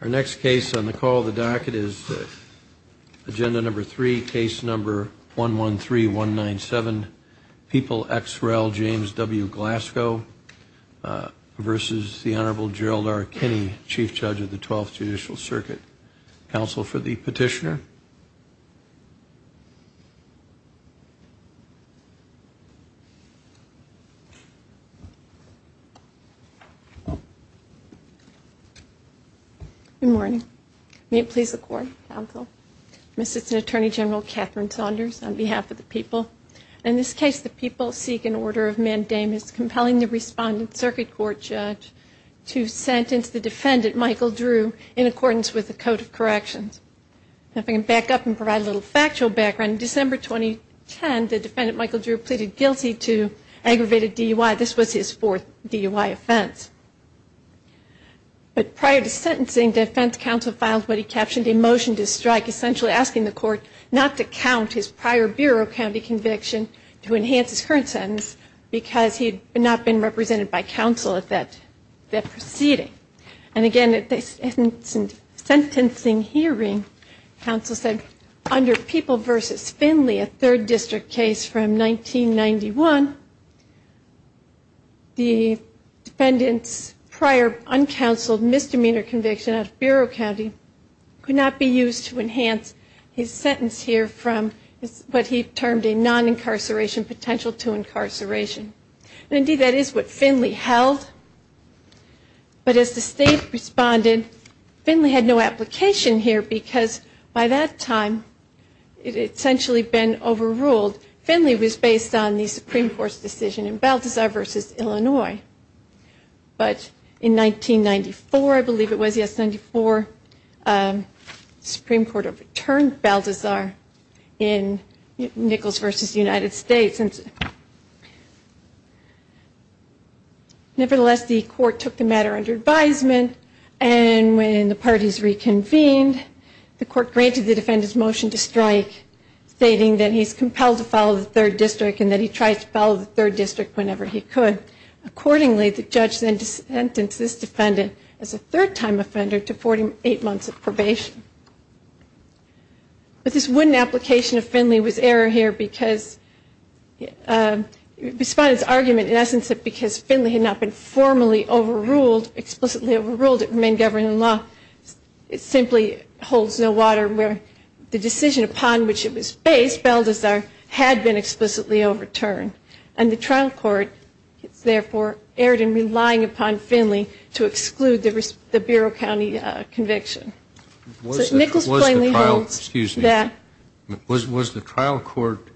Our next case on the call of the docket is agenda number three, case number 113197, People ex rel. James W. Glasgow v. the Honorable Gerald R. Kinney, Chief Judge of the Twelfth Judicial Circuit. Counsel for the petitioner. Good morning. May it please the Court, counsel. I'm Assistant Attorney General Catherine Saunders on behalf of the people. In this case, the people seek an order of mandamus compelling the respondent circuit court judge to sentence the defendant, Michael Drew, in accordance with the Code of Corrections. If I can back up and provide a little factual background, December 2010, the defendant, Michael Drew, pleaded guilty to aggravated DUI. This was his fourth DUI offense. But prior to sentencing, defense counsel filed what he captioned a motion to strike, essentially asking the court not to count his prior bureau county conviction to enhance his current sentence because he had not been represented by counsel at that proceeding. And again, at the sentencing hearing, counsel said, under People v. Finley, a third district case from 1991, the defendant's prior uncounseled misdemeanor conviction out of bureau county could not be used to enhance his sentence here from what he termed a non-incarceration potential to incarceration. And indeed, that is what Finley held. But as the state responded, Finley had no application here because by that time it had essentially been overruled. Finley was based on the Supreme Court's decision in Balthazar v. Illinois. But in 1994, I believe it was, yes, 1994, the Supreme Court overturned Balthazar in Nichols v. United States. Nevertheless, the court took the matter under advisement, and when the parties reconvened, the court granted the defendant's motion to strike, stating that he's compelled to follow the third district and that he tried to follow the third district whenever he could. Accordingly, the judge then sentenced this defendant as a third-time offender to 48 months of probation. But this wooden application of Finley was error here because, the respondent's argument, in essence, that because Finley had not been formally overruled, explicitly overruled, it remained governed in law, simply holds no water where the decision upon which it was based, if Balthazar had been explicitly overturned. And the trial court, therefore, erred in relying upon Finley to exclude the Bureau County conviction. So Nichols plainly holds that. Was the trial court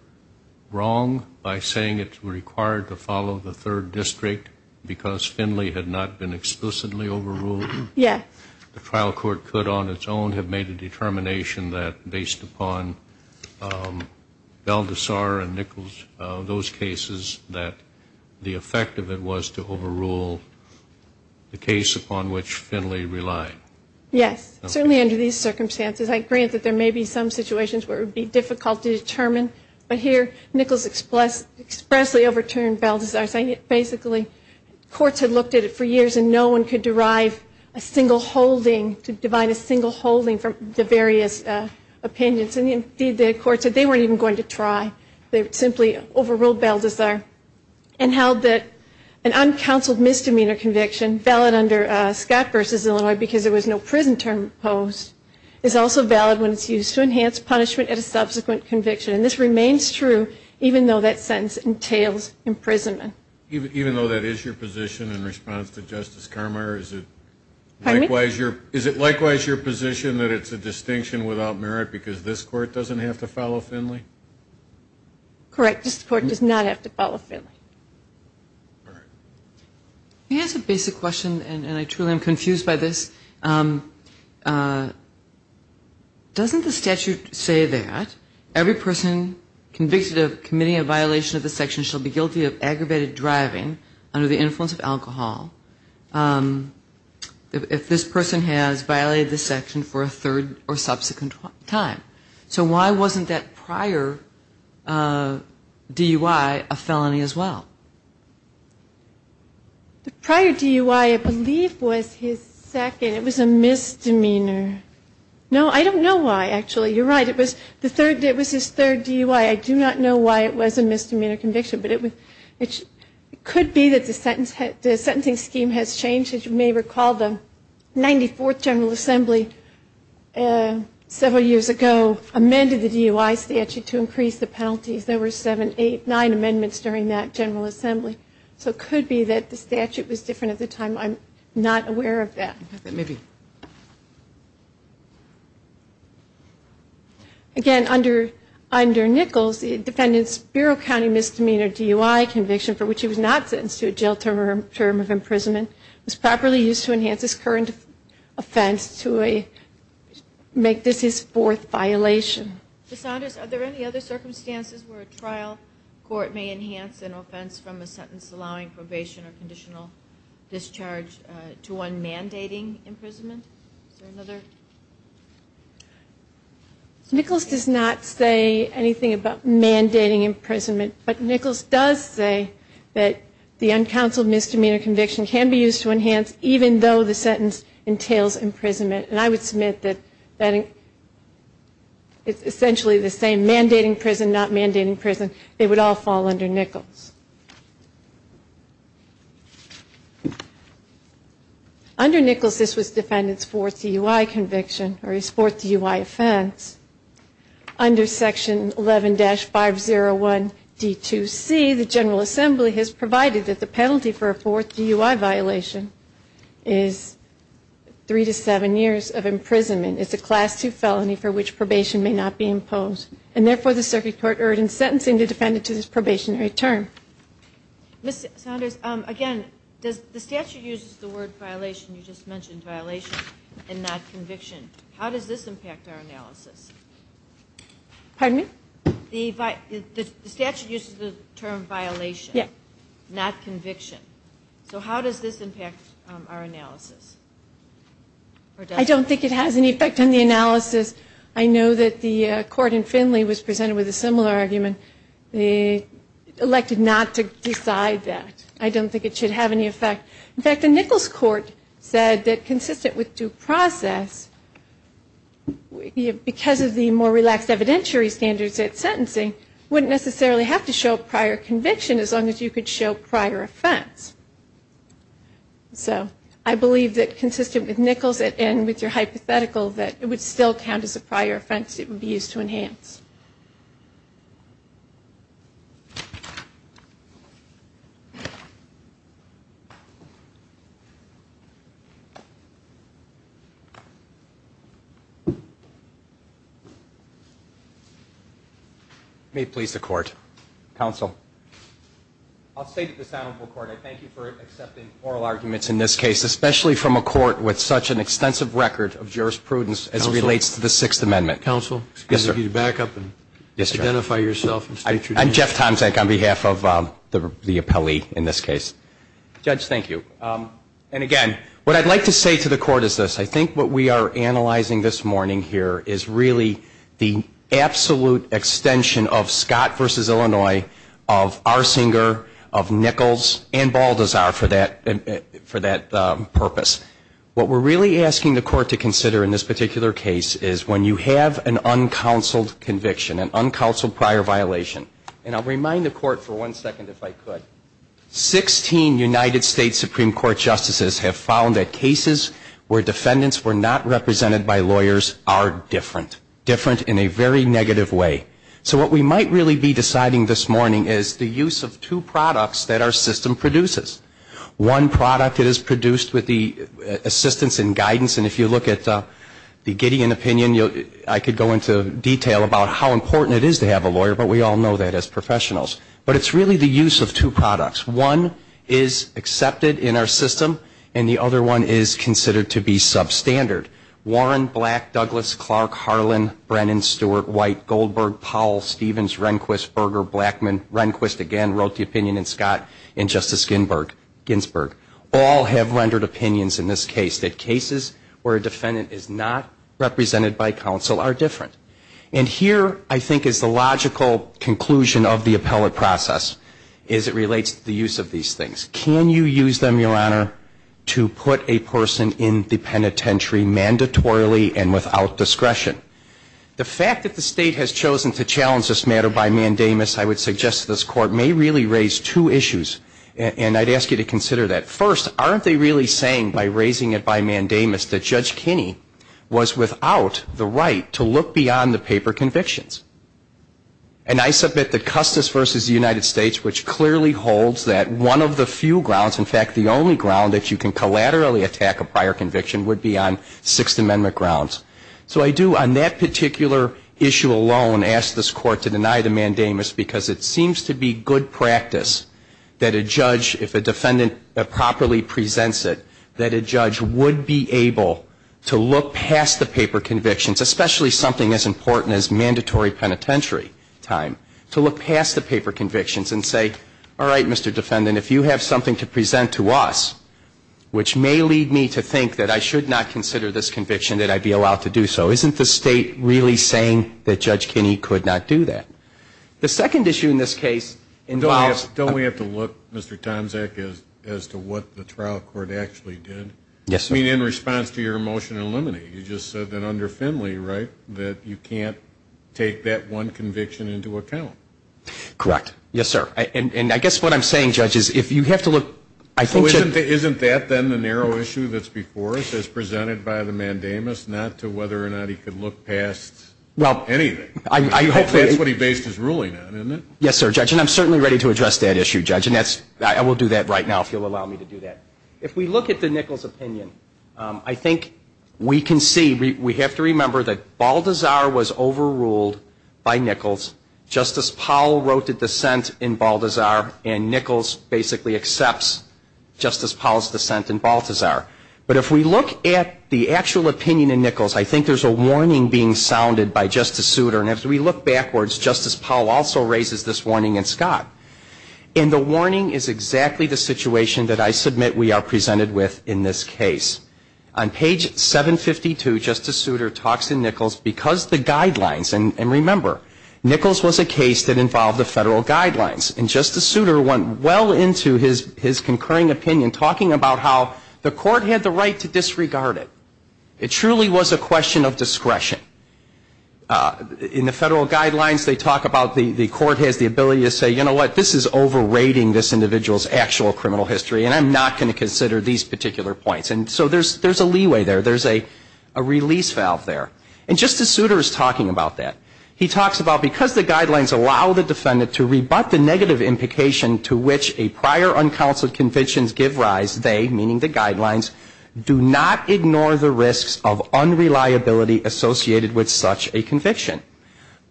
wrong by saying it's required to follow the third district because Finley had not been explicitly overruled? Yes. The trial court could, on its own, have made a determination that, based upon Balthazar and Nichols, those cases, that the effect of it was to overrule the case upon which Finley relied. Yes. Certainly under these circumstances. I grant that there may be some situations where it would be difficult to determine, but here Nichols expressly overturned Balthazar, saying it basically, courts had looked at it for years and no one could derive a single holding, to divide a single holding from the various opinions. And, indeed, the court said they weren't even going to try. They simply overruled Balthazar and held that an uncounseled misdemeanor conviction, valid under Scott v. Illinois because there was no prison term imposed, is also valid when it's used to enhance punishment at a subsequent conviction. And this remains true even though that sentence entails imprisonment. Even though that is your position in response to Justice Carmer, is it likewise your position that it's a distinction without merit because this court doesn't have to follow Finley? Correct. This court does not have to follow Finley. All right. May I ask a basic question, and I truly am confused by this? Doesn't the statute say that every person convicted of committing a violation of this section shall be guilty of aggravated driving under the influence of alcohol if this person has violated this section for a third or subsequent time? So why wasn't that prior DUI a felony as well? The prior DUI, I believe, was his second. It was a misdemeanor. No, I don't know why, actually. You're right. It was his third DUI. I do not know why it was a misdemeanor conviction, but it could be that the sentencing scheme has changed. As you may recall, the 94th General Assembly several years ago amended the DUI statute to increase the penalties. There were seven, eight, nine amendments during that General Assembly. So it could be that the statute was different at the time. I'm not aware of that. Maybe. Again, under Nichols, the defendant's Bureau County Misdemeanor DUI conviction, for which he was not sentenced to a jail term of imprisonment, was properly used to enhance his current offense to make this his fourth violation. Ms. Saunders, are there any other circumstances where a trial court may enhance an offense from a sentence allowing probation or conditional discharge to one mandating imprisonment? Is there another? Nichols does not say anything about mandating imprisonment, but Nichols does say that the uncounseled misdemeanor conviction can be used to enhance, even though the sentence entails imprisonment. And I would submit that it's essentially the same, mandating prison, not mandating prison. They would all fall under Nichols. Under Nichols, this was defendant's fourth DUI conviction, or his fourth DUI offense. Under Section 11-501D2C, the General Assembly has provided that the penalty for a fourth DUI violation is three to seven years of imprisonment. It's a Class II felony for which probation may not be imposed. And therefore, the circuit court urges sentencing the defendant to this probationary term. Ms. Saunders, again, the statute uses the word violation. You just mentioned violation and not conviction. How does this impact our analysis? Pardon me? The statute uses the term violation, not conviction. So how does this impact our analysis? I don't think it has any effect on the analysis. I know that the court in Finley was presented with a similar argument. They elected not to decide that. I don't think it should have any effect. In fact, the Nichols court said that consistent with due process, because of the more relaxed evidentiary standards at sentencing, wouldn't necessarily have to show prior conviction as long as you could show prior offense. So I believe that consistent with Nichols and with your hypothetical, that it would still count as a prior offense. It would be used to enhance. May it please the Court. Counsel. I'll say to this Honorable Court, I thank you for accepting oral arguments in this case, especially from a court with such an extensive record of jurisprudence as relates to the Sixth Amendment. Counsel, excuse me to back up and identify yourself. I'm Jeff Tomczak on behalf of the appellee in this case. Judge, thank you. And again, what I'd like to say to the Court is this. I think what we are analyzing this morning here is really the absolute extension of Scott v. of Arsinger, of Nichols, and Baldazar for that purpose. What we're really asking the Court to consider in this particular case is when you have an uncounseled conviction, an uncounseled prior violation, and I'll remind the Court for one second if I could. Sixteen United States Supreme Court justices have found that cases where defendants were not represented by lawyers are different, different in a very negative way. So what we might really be deciding this morning is the use of two products that our system produces. One product is produced with the assistance and guidance, and if you look at the Gideon opinion, I could go into detail about how important it is to have a lawyer, but we all know that as professionals. But it's really the use of two products. One is accepted in our system, and the other one is considered to be substandard. Warren, Black, Douglas, Clark, Harlan, Brennan, Stewart, White, Goldberg, Powell, Stevens, Rehnquist, Berger, Blackman, Rehnquist again wrote the opinion, and Scott, and Justice Ginsburg all have rendered opinions in this case that cases where a defendant is not represented by counsel are different. And here I think is the logical conclusion of the appellate process is it relates to the use of these things. Can you use them, Your Honor, to put a person in the penitentiary mandatorily and without discretion? The fact that the State has chosen to challenge this matter by mandamus, I would suggest to this Court, may really raise two issues, and I'd ask you to consider that. First, aren't they really saying by raising it by mandamus that Judge Kinney was without the right to look beyond the paper convictions? And I submit that Custis v. United States, which clearly holds that one of the few grounds, in fact, the only ground that you can collaterally attack a prior conviction would be on Sixth Amendment grounds. So I do on that particular issue alone ask this Court to deny the mandamus because it seems to be good practice that a judge, if a defendant properly presents it, that a judge would be able to look past the paper convictions, especially something as important as mandatory penitentiary time, to look past the paper convictions and say, all right, Mr. Defendant, if you have something to present to us, which may lead me to think that I should not consider this conviction, that I'd be allowed to do so. Isn't the State really saying that Judge Kinney could not do that? The second issue in this case involves – Don't we have to look, Mr. Tomczak, as to what the trial court actually did? Yes, sir. I mean, in response to your motion to eliminate, you just said that under Finley, right, that you can't take that one conviction into account. Correct. Yes, sir. And I guess what I'm saying, Judge, is if you have to look – So isn't that then the narrow issue that's before us as presented by the mandamus, not to whether or not he could look past anything? That's what he based his ruling on, isn't it? Yes, sir, Judge. And I'm certainly ready to address that issue, Judge, and I will do that right now if you'll allow me to do that. If we look at the Nichols opinion, I think we can see – we have to remember that Balthazar was overruled by Nichols. Justice Powell wrote the dissent in Balthazar, and Nichols basically accepts Justice Powell's dissent in Balthazar. But if we look at the actual opinion in Nichols, I think there's a warning being sounded by Justice Souter, and as we look backwards, Justice Powell also raises this warning in Scott. And the warning is exactly the situation that I submit we are presented with in this case. On page 752, Justice Souter talks in Nichols because the guidelines – and remember, Nichols was a case that involved the federal guidelines, and Justice Souter went well into his concurring opinion talking about how the court had the right to disregard it. It truly was a question of discretion. In the federal guidelines, they talk about the court has the ability to say, you know what, this is overrating this individual's actual criminal history, and I'm not going to consider these particular points. And so there's a leeway there. There's a release valve there. And Justice Souter is talking about that. He talks about because the guidelines allow the defendant to rebut the negative implication to which a prior uncounseled conviction gives rise, they, meaning the guidelines, do not ignore the risks of unreliability associated with such a conviction.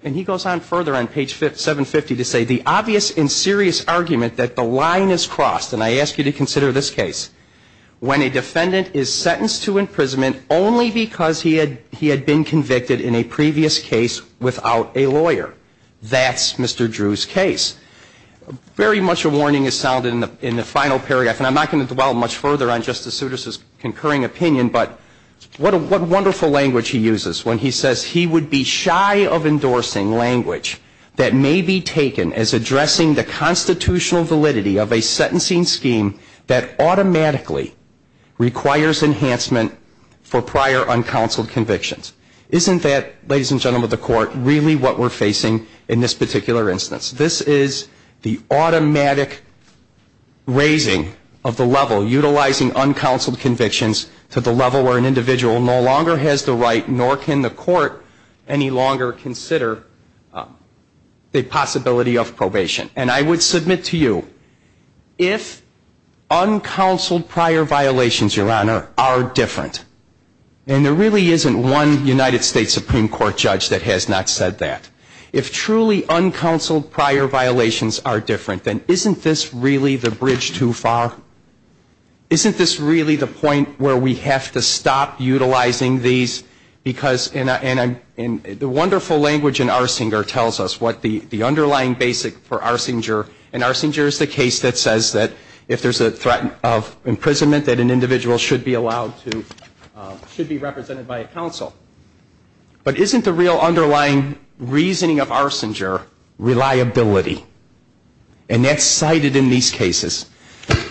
And he goes on further on page 750 to say, the obvious and serious argument that the line is crossed, and I ask you to consider this case, when a defendant is sentenced to imprisonment only because he had been convicted in a previous case without a lawyer. That's Mr. Drew's case. Very much a warning is sounded in the final paragraph, and I'm not going to dwell much further on Justice Souter's concurring opinion, but what wonderful language he uses when he says he would be shy of endorsing language that may be taken as addressing the constitutional validity of a sentencing scheme that automatically requires enhancement for prior uncounseled convictions. Isn't that, ladies and gentlemen of the court, really what we're facing in this particular instance? This is the automatic raising of the level, utilizing uncounseled convictions to the level where an individual no longer has the right, nor can the court any longer consider the possibility of probation. And I would submit to you, if uncounseled prior violations, Your Honor, are different, and there really isn't one United States Supreme Court judge that has not said that, if truly uncounseled prior violations are different, then isn't this really the bridge too far? Isn't this really the point where we have to stop utilizing these? Because the wonderful language in Arsinger tells us what the underlying basic for Arsinger, and Arsinger is the case that says that if there's a threat of imprisonment, that an individual should be allowed to, should be represented by a counsel. But isn't the real underlying reasoning of Arsinger reliability? And that's cited in these cases.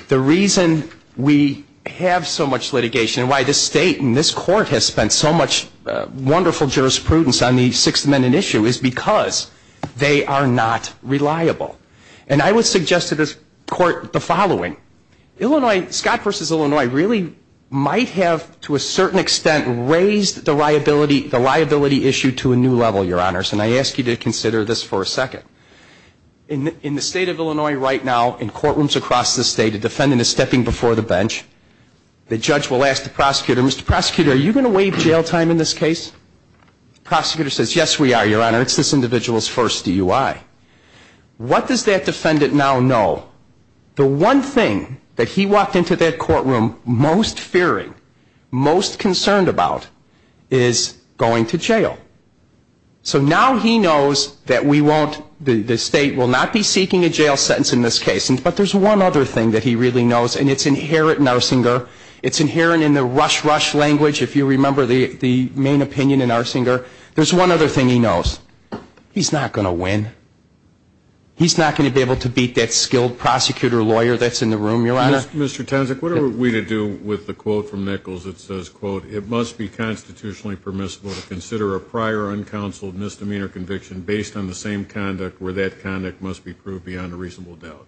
The reason we have so much litigation and why this state and this court has spent so much wonderful jurisprudence on the Sixth Amendment issue is because they are not reliable. And I would suggest to this court the following. Scott v. Illinois really might have, to a certain extent, raised the liability issue to a new level, Your Honor. And I ask you to consider this for a second. In the state of Illinois right now, in courtrooms across the state, a defendant is stepping before the bench. The judge will ask the prosecutor, Mr. Prosecutor, are you going to waive jail time in this case? The prosecutor says, yes, we are, Your Honor. It's this individual's first DUI. What does that defendant now know? The one thing that he walked into that courtroom most fearing, most concerned about, is going to jail. So now he knows that we won't, the state will not be seeking a jail sentence in this case. But there's one other thing that he really knows, and it's inherent in Arsinger. It's inherent in the rush, rush language, if you remember the main opinion in Arsinger. There's one other thing he knows. He's not going to win. He's not going to be able to beat that skilled prosecutor or lawyer that's in the room, Your Honor. Mr. Townsend, what are we to do with the quote from Nichols that says, quote, it must be constitutionally permissible to consider a prior uncounseled misdemeanor conviction based on the same conduct where that conduct must be proved beyond a reasonable doubt?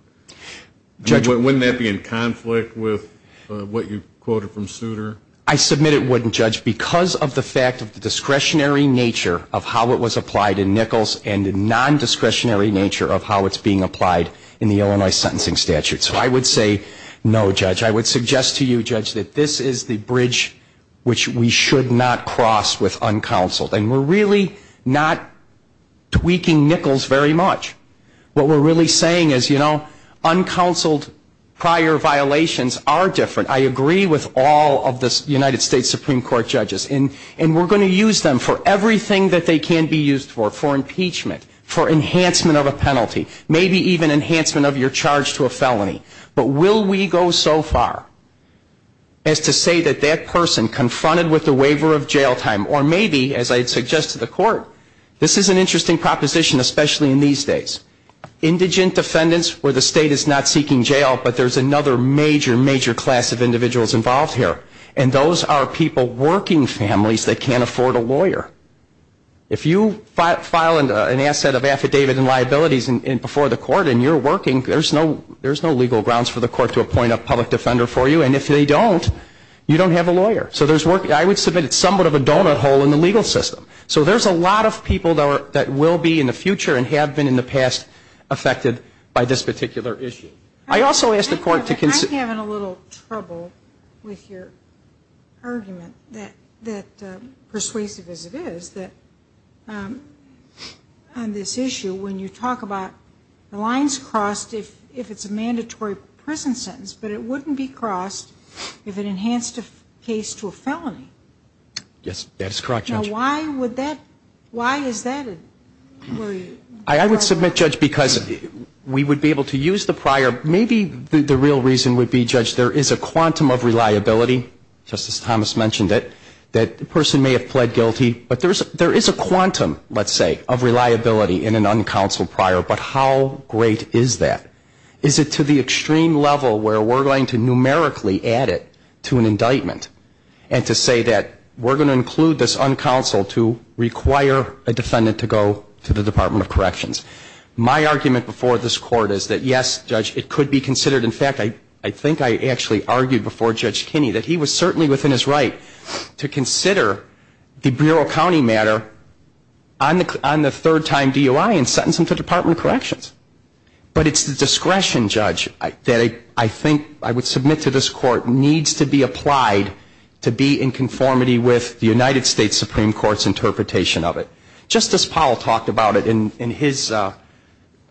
Wouldn't that be in conflict with what you quoted from Souter? I submit it wouldn't, Judge, because of the fact of the discretionary nature of how it was applied in Nichols and the nondiscretionary nature of how it's being applied in the Illinois sentencing statute. So I would say no, Judge. I would suggest to you, Judge, that this is the bridge which we should not cross with uncounseled. And we're really not tweaking Nichols very much. What we're really saying is, you know, uncounseled prior violations are different. I agree with all of the United States Supreme Court judges. And we're going to use them for everything that they can be used for, for impeachment, for enhancement of a penalty, maybe even enhancement of your charge to a felony. But will we go so far as to say that that person confronted with a waiver of jail time, or maybe, as I'd suggest to the court, this is an interesting proposition, especially in these days. Indigent defendants where the state is not seeking jail, but there's another major, major class of individuals involved here, and those are people working families that can't afford a lawyer. If you file an asset of affidavit and liabilities before the court and you're working, there's no legal grounds for the court to appoint a public defender for you. And if they don't, you don't have a lawyer. So I would submit it's somewhat of a donut hole in the legal system. So there's a lot of people that will be in the future and have been in the past affected by this particular issue. I'm having a little trouble with your argument, persuasive as it is, that on this issue when you talk about the lines crossed if it's a mandatory prison sentence, but it wouldn't be crossed if it enhanced a case to a felony. Yes, that is correct, Judge. Now why is that? I would submit, Judge, because we would be able to use the prior. Maybe the real reason would be, Judge, there is a quantum of reliability, just as Thomas mentioned it, that the person may have pled guilty, but there is a quantum, let's say, of reliability in an uncounseled prior. But how great is that? Is it to the extreme level where we're going to numerically add it to an indictment and to say that we're going to include this uncounseled to require a defendant to go to the Department of Corrections? My argument before this Court is that, yes, Judge, it could be considered. In fact, I think I actually argued before Judge Kinney that he was certainly within his right to consider the Brewer County matter on the third time DUI and sentence him to Department of Corrections. But it's the discretion, Judge, that I think I would submit to this Court needs to be applied to be in conformity with the United States Supreme Court's interpretation of it. Justice Powell talked about it in his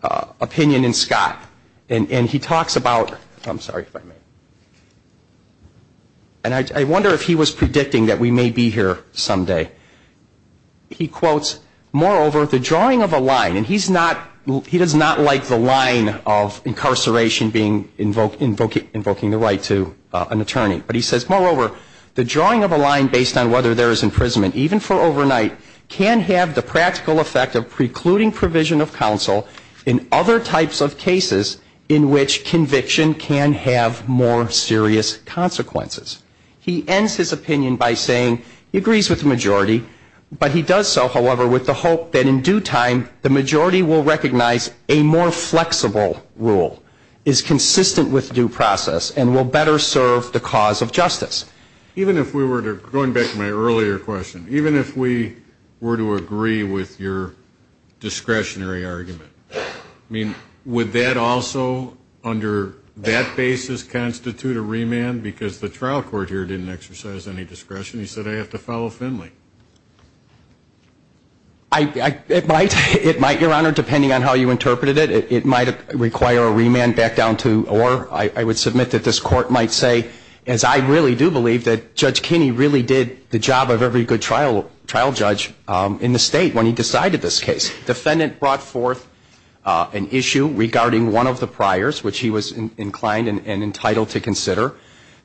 opinion in Scott. And he talks about, I'm sorry if I may, and I wonder if he was predicting that we may be here someday. He quotes, moreover, the drawing of a line. And he's not, he does not like the line of incarceration being, invoking the right to an attorney. But he says, moreover, the drawing of a line based on whether there is imprisonment, even for overnight, can have the practical effect of precluding provision of counsel in other types of cases in which conviction can have more serious consequences. He ends his opinion by saying, he agrees with the majority, but he does so, however, with the hope that in due time the majority will recognize a more flexible rule is consistent with due process and will better serve the cause of justice. Even if we were to, going back to my earlier question, even if we were to agree with your discretionary argument, I mean, would that also under that basis constitute a remand? Because the trial court here didn't exercise any discretion. He said, I have to follow Finley. It might, Your Honor, depending on how you interpreted it. It might require a remand back down to or. I would submit that this Court might say, as I really do believe, that Judge Kinney really did the job of every good trial judge in the State when he decided this case. The defendant brought forth an issue regarding one of the priors, which he was inclined and entitled to consider.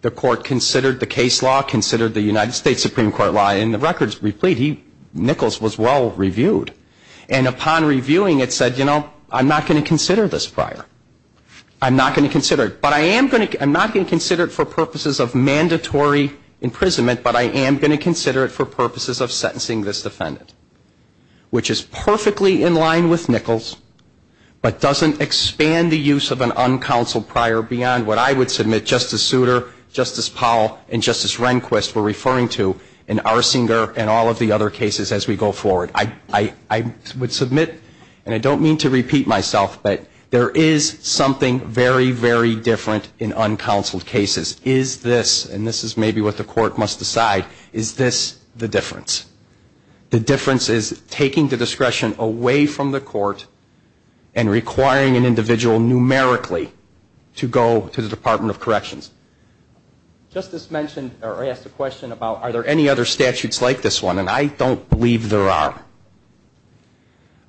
The Court considered the case law, considered the United States Supreme Court law, and the records replete. Nichols was well-reviewed. And upon reviewing it said, you know, I'm not going to consider this prior. I'm not going to consider it. But I am going to – I'm not going to consider it for purposes of mandatory imprisonment, but I am going to consider it for purposes of sentencing this defendant, which is perfectly in line with Nichols, but doesn't expand the use of an uncounseled prior beyond what I would submit Justice Souter, Justice Powell, and Justice Rehnquist were referring to in Arsinger and all of the other cases as we go forward. I would submit, and I don't mean to repeat myself, but there is something very, very different in uncounseled cases. Is this, and this is maybe what the Court must decide, is this the difference? The difference is taking the discretion away from the Court and requiring an individual numerically to go to the Department of Corrections. Justice mentioned or asked a question about are there any other statutes like this one, and I don't believe there are.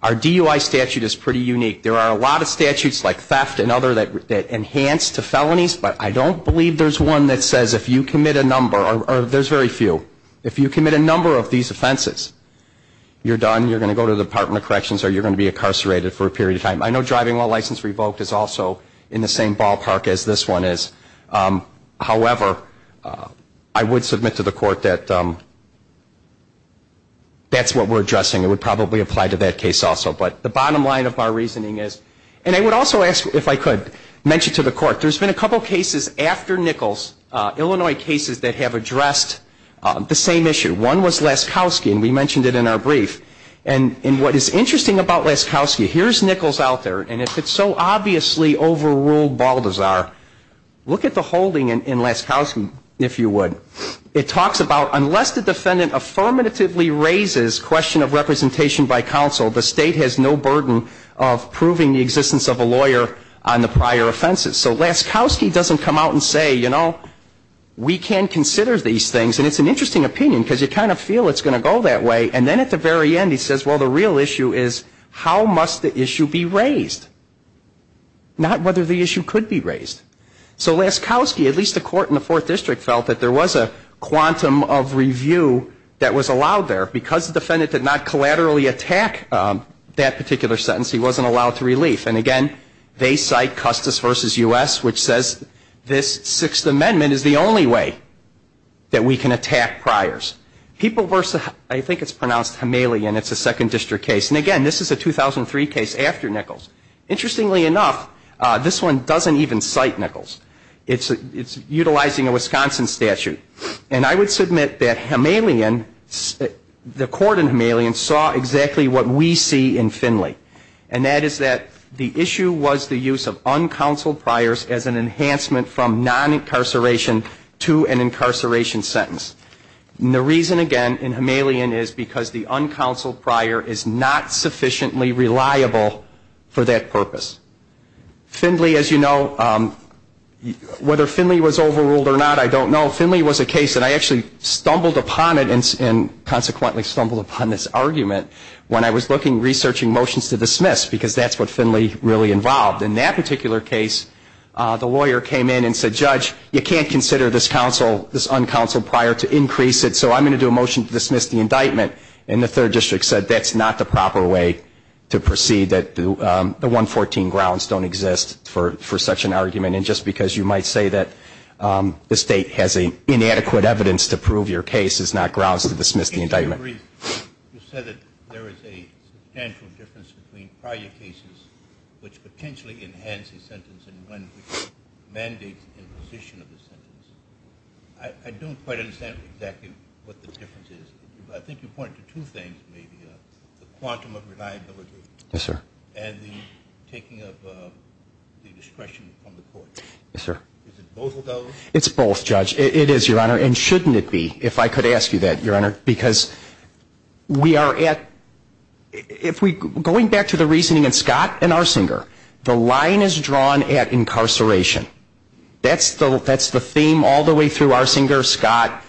Our DUI statute is pretty unique. There are a lot of statutes like theft and other that enhance to felonies, but I don't believe there's one that says if you commit a number, or there's very few, if you commit a number of these offenses, you're done, you're going to go to the Department of Corrections, or you're going to be incarcerated for a period of time. I know driving while license revoked is also in the same ballpark as this one is. However, I would submit to the Court that that's what we're addressing. It would probably apply to that case also. But the bottom line of our reasoning is, and I would also ask if I could mention to the Court, there's been a couple of cases after Nichols, Illinois cases that have addressed the same issue. One was Laskowski, and we mentioned it in our brief. And what is interesting about Laskowski, here's Nichols out there, and if it's so obviously overruled bald as our, look at the holding in Laskowski, if you would. It talks about unless the defendant affirmatively raises question of representation by counsel, the state has no burden of proving the existence of a lawyer on the prior offenses. So Laskowski doesn't come out and say, you know, we can consider these things. And it's an interesting opinion because you kind of feel it's going to go that way. And then at the very end he says, well, the real issue is how must the issue be raised, not whether the issue could be raised. So Laskowski, at least the Court in the Fourth District, felt that there was a quantum of review that was allowed there. Because the defendant did not collaterally attack that particular sentence, he wasn't allowed to relief. And, again, they cite Custis v. U.S., which says this Sixth Amendment is the only way that we can attack priors. People versus, I think it's pronounced Himalayan, it's a Second District case. And, again, this is a 2003 case after Nichols. Interestingly enough, this one doesn't even cite Nichols. It's utilizing a Wisconsin statute. And I would submit that Himalayan, the Court in Himalayan, saw exactly what we see in Finley. And that is that the issue was the use of uncounseled priors as an enhancement from non-incarceration to an incarceration sentence. And the reason, again, in Himalayan is because the uncounseled prior is not sufficiently reliable for that purpose. Finley, as you know, whether Finley was overruled or not, I don't know. Finley was a case that I actually stumbled upon it and consequently stumbled upon this argument when I was looking, researching motions to dismiss because that's what Finley really involved. In that particular case, the lawyer came in and said, Judge, you can't consider this uncounseled prior to increase it, so I'm going to do a motion to dismiss the indictment. And the Third District said that's not the proper way to proceed, that the 114 grounds don't exist for such an argument. And just because you might say that the State has inadequate evidence to prove your case is not grounds to dismiss the indictment. I agree. You said that there is a substantial difference between prior cases which potentially enhance a sentence and one which mandates imposition of the sentence. I don't quite understand exactly what the difference is. I think you pointed to two things, maybe, the quantum of reliability. Yes, sir. And the taking of the discretion from the court. Yes, sir. It's both, Judge. It is, Your Honor. And shouldn't it be, if I could ask you that, Your Honor. Because we are at, if we, going back to the reasoning in Scott and Arsinger, the line is drawn at incarceration. That's the theme all the way through Arsinger, Scott,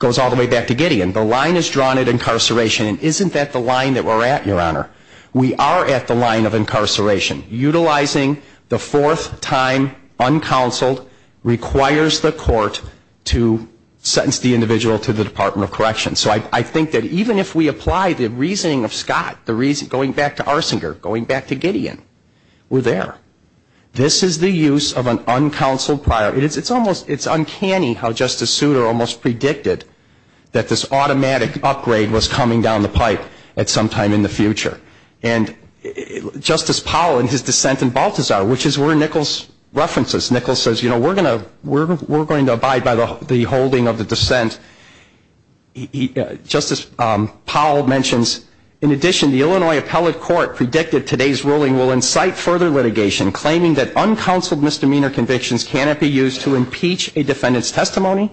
goes all the way back to Gideon. The line is drawn at incarceration. And isn't that the line that we're at, Your Honor? We are at the line of incarceration. Utilizing the fourth time uncounseled requires the court to sentence the individual to the Department of Corrections. So I think that even if we apply the reasoning of Scott, the reason, going back to Arsinger, going back to Gideon, we're there. This is the use of an uncounseled prior. It's almost, it's uncanny how Justice Souter almost predicted that this automatic upgrade was coming down the pipe at some time in the future. And Justice Powell in his dissent in Balthazar, which is where Nichols references. Nichols says, you know, we're going to abide by the holding of the dissent. Justice Powell mentions, in addition, the Illinois Appellate Court predicted today's ruling will incite further litigation, claiming that uncounseled misdemeanor convictions cannot be used to impeach a defendant's testimony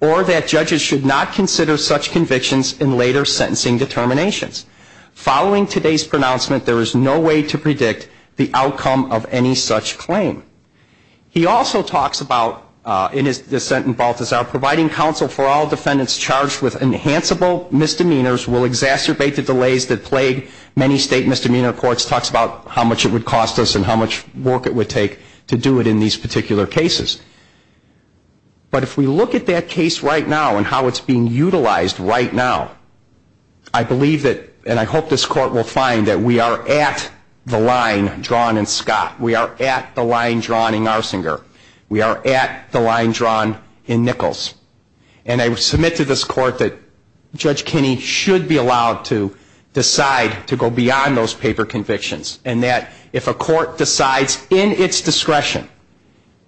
or that judges should not consider such convictions in later sentencing determinations. Following today's pronouncement, there is no way to predict the outcome of any such claim. He also talks about, in his dissent in Balthazar, providing counsel for all defendants charged with enhanceable misdemeanors will exacerbate the delays that plague many state misdemeanor courts. Talks about how much it would cost us and how much work it would take to do it in these particular cases. But if we look at that case right now and how it's being utilized right now, I believe that, and I hope this Court will find that we are at the line drawn in Scott. We are at the line drawn in Arsinger. We are at the line drawn in Nichols. And I submit to this Court that Judge Kinney should be allowed to decide to go beyond those paper convictions and that if a court decides in its discretion,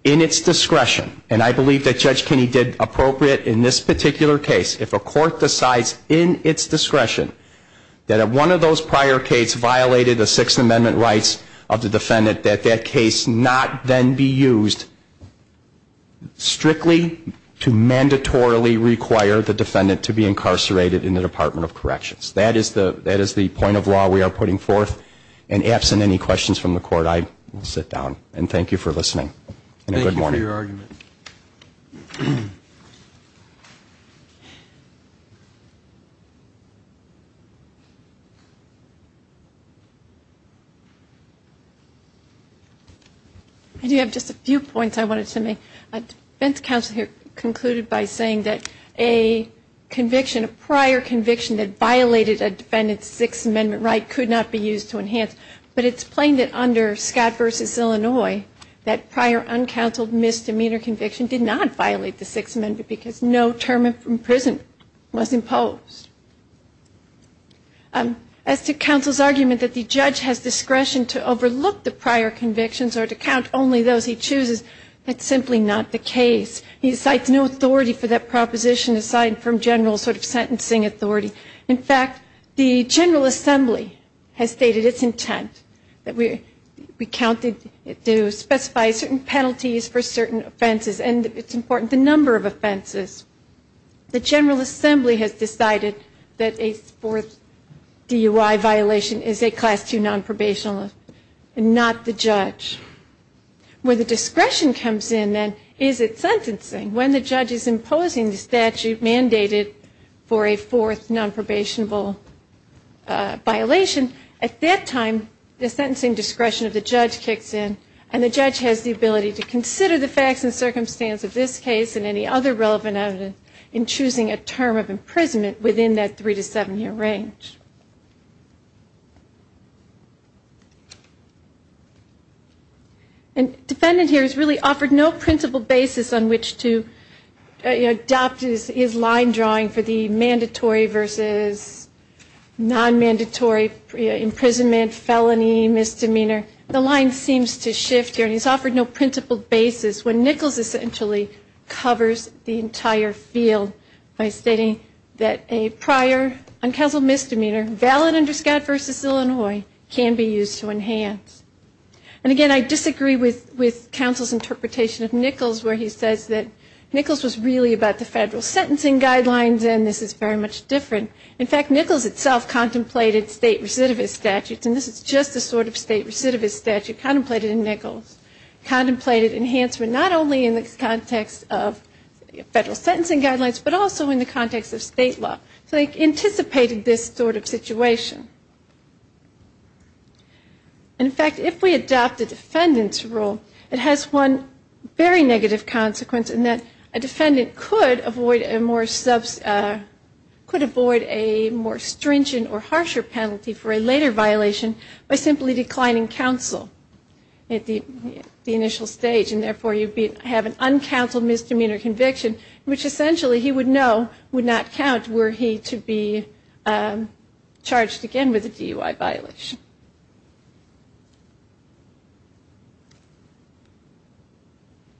in its discretion, and I believe that Judge Kinney did appropriate in this particular case, if a court decides in its discretion that if one of those prior cases violated the Sixth Amendment rights of the defendant, that that case not then be used strictly to mandatorily require the defendant to be incarcerated in the Department of Corrections. That is the point of law we are putting forth. And absent any questions from the Court, I will sit down. And thank you for listening. And a good morning. Thank you for your argument. I do have just a few points I wanted to make. A defense counsel here concluded by saying that a conviction, a prior conviction that violated a defendant's Sixth Amendment right could not be used to enhance. But it's plain that under Scott v. Illinois, that prior uncounseled misdemeanor conviction did not violate the Sixth Amendment because no term in prison was imposed. As to counsel's argument that the judge has discretion to overlook the prior convictions or to count only those he chooses, that's simply not the case. He cites no authority for that proposition aside from general sort of sentencing authority. In fact, the General Assembly has stated its intent that we count to specify certain penalties for certain offenses. And it's important, the number of offenses. The General Assembly has decided that a fourth DUI violation is a Class II nonprobational and not the judge. When the discretion comes in, then, is it sentencing? When the judge is imposing the statute mandated for a fourth nonprobationable violation, at that time the sentencing discretion of the judge kicks in. And the judge has the ability to consider the facts and circumstance of this case and any other relevant evidence in choosing a term of imprisonment within that three- to seven-year range. And defendant here has really offered no principle basis on which to adopt his line drawing for the mandatory versus nonmandatory imprisonment, felony, misdemeanor. The line seems to shift here, and he's offered no principle basis when Nichols essentially covers the entire field by stating that a prior uncounseled misdemeanor valid under Scott v. Illinois can be used to enhance. And again, I disagree with counsel's interpretation of Nichols, where he says that Nichols was really about the federal sentencing guidelines, and this is very much different. In fact, Nichols itself contemplated state recidivist statutes, and this is just a sort of state recidivist statute contemplated in Nichols, contemplated enhancement not only in the context of federal sentencing guidelines, but also in the context of state law. So they anticipated this sort of situation. And in fact, if we adopt the defendant's rule, it has one very negative consequence, and that a defendant could avoid a more stringent or harsher penalty for a later violation by simply declining counsel at the initial stage, and therefore you have an uncounseled misdemeanor conviction, which essentially he would know would not count were he to be charged again with a DUI violation.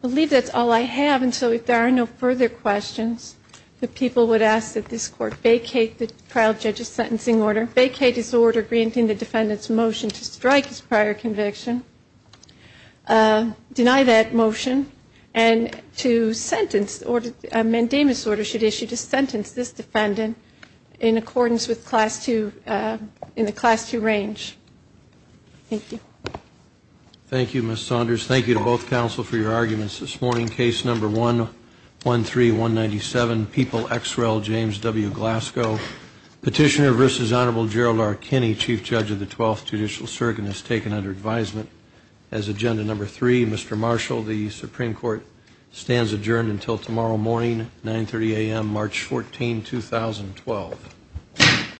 I believe that's all I have, and so if there are no further questions, the people would ask that this Court vacate the trial judge's sentencing order, vacate his order granting the defendant's motion to strike his prior conviction, deny that motion, and to sentence, mandamus order should issue to sentence this defendant in accordance with Class II, in the Class II range. Thank you. Thank you, Ms. Saunders. Thank you to both counsel for your arguments this morning. Case number 113197, People X. Rel. James W. Glasgow. Petitioner versus Honorable Gerald R. Kinney, Chief Judge of the 12th Judicial Circuit, is taken under advisement as agenda number three. Mr. Marshall, the Supreme Court stands adjourned until tomorrow morning, 9.30 a.m. March 14, 2012.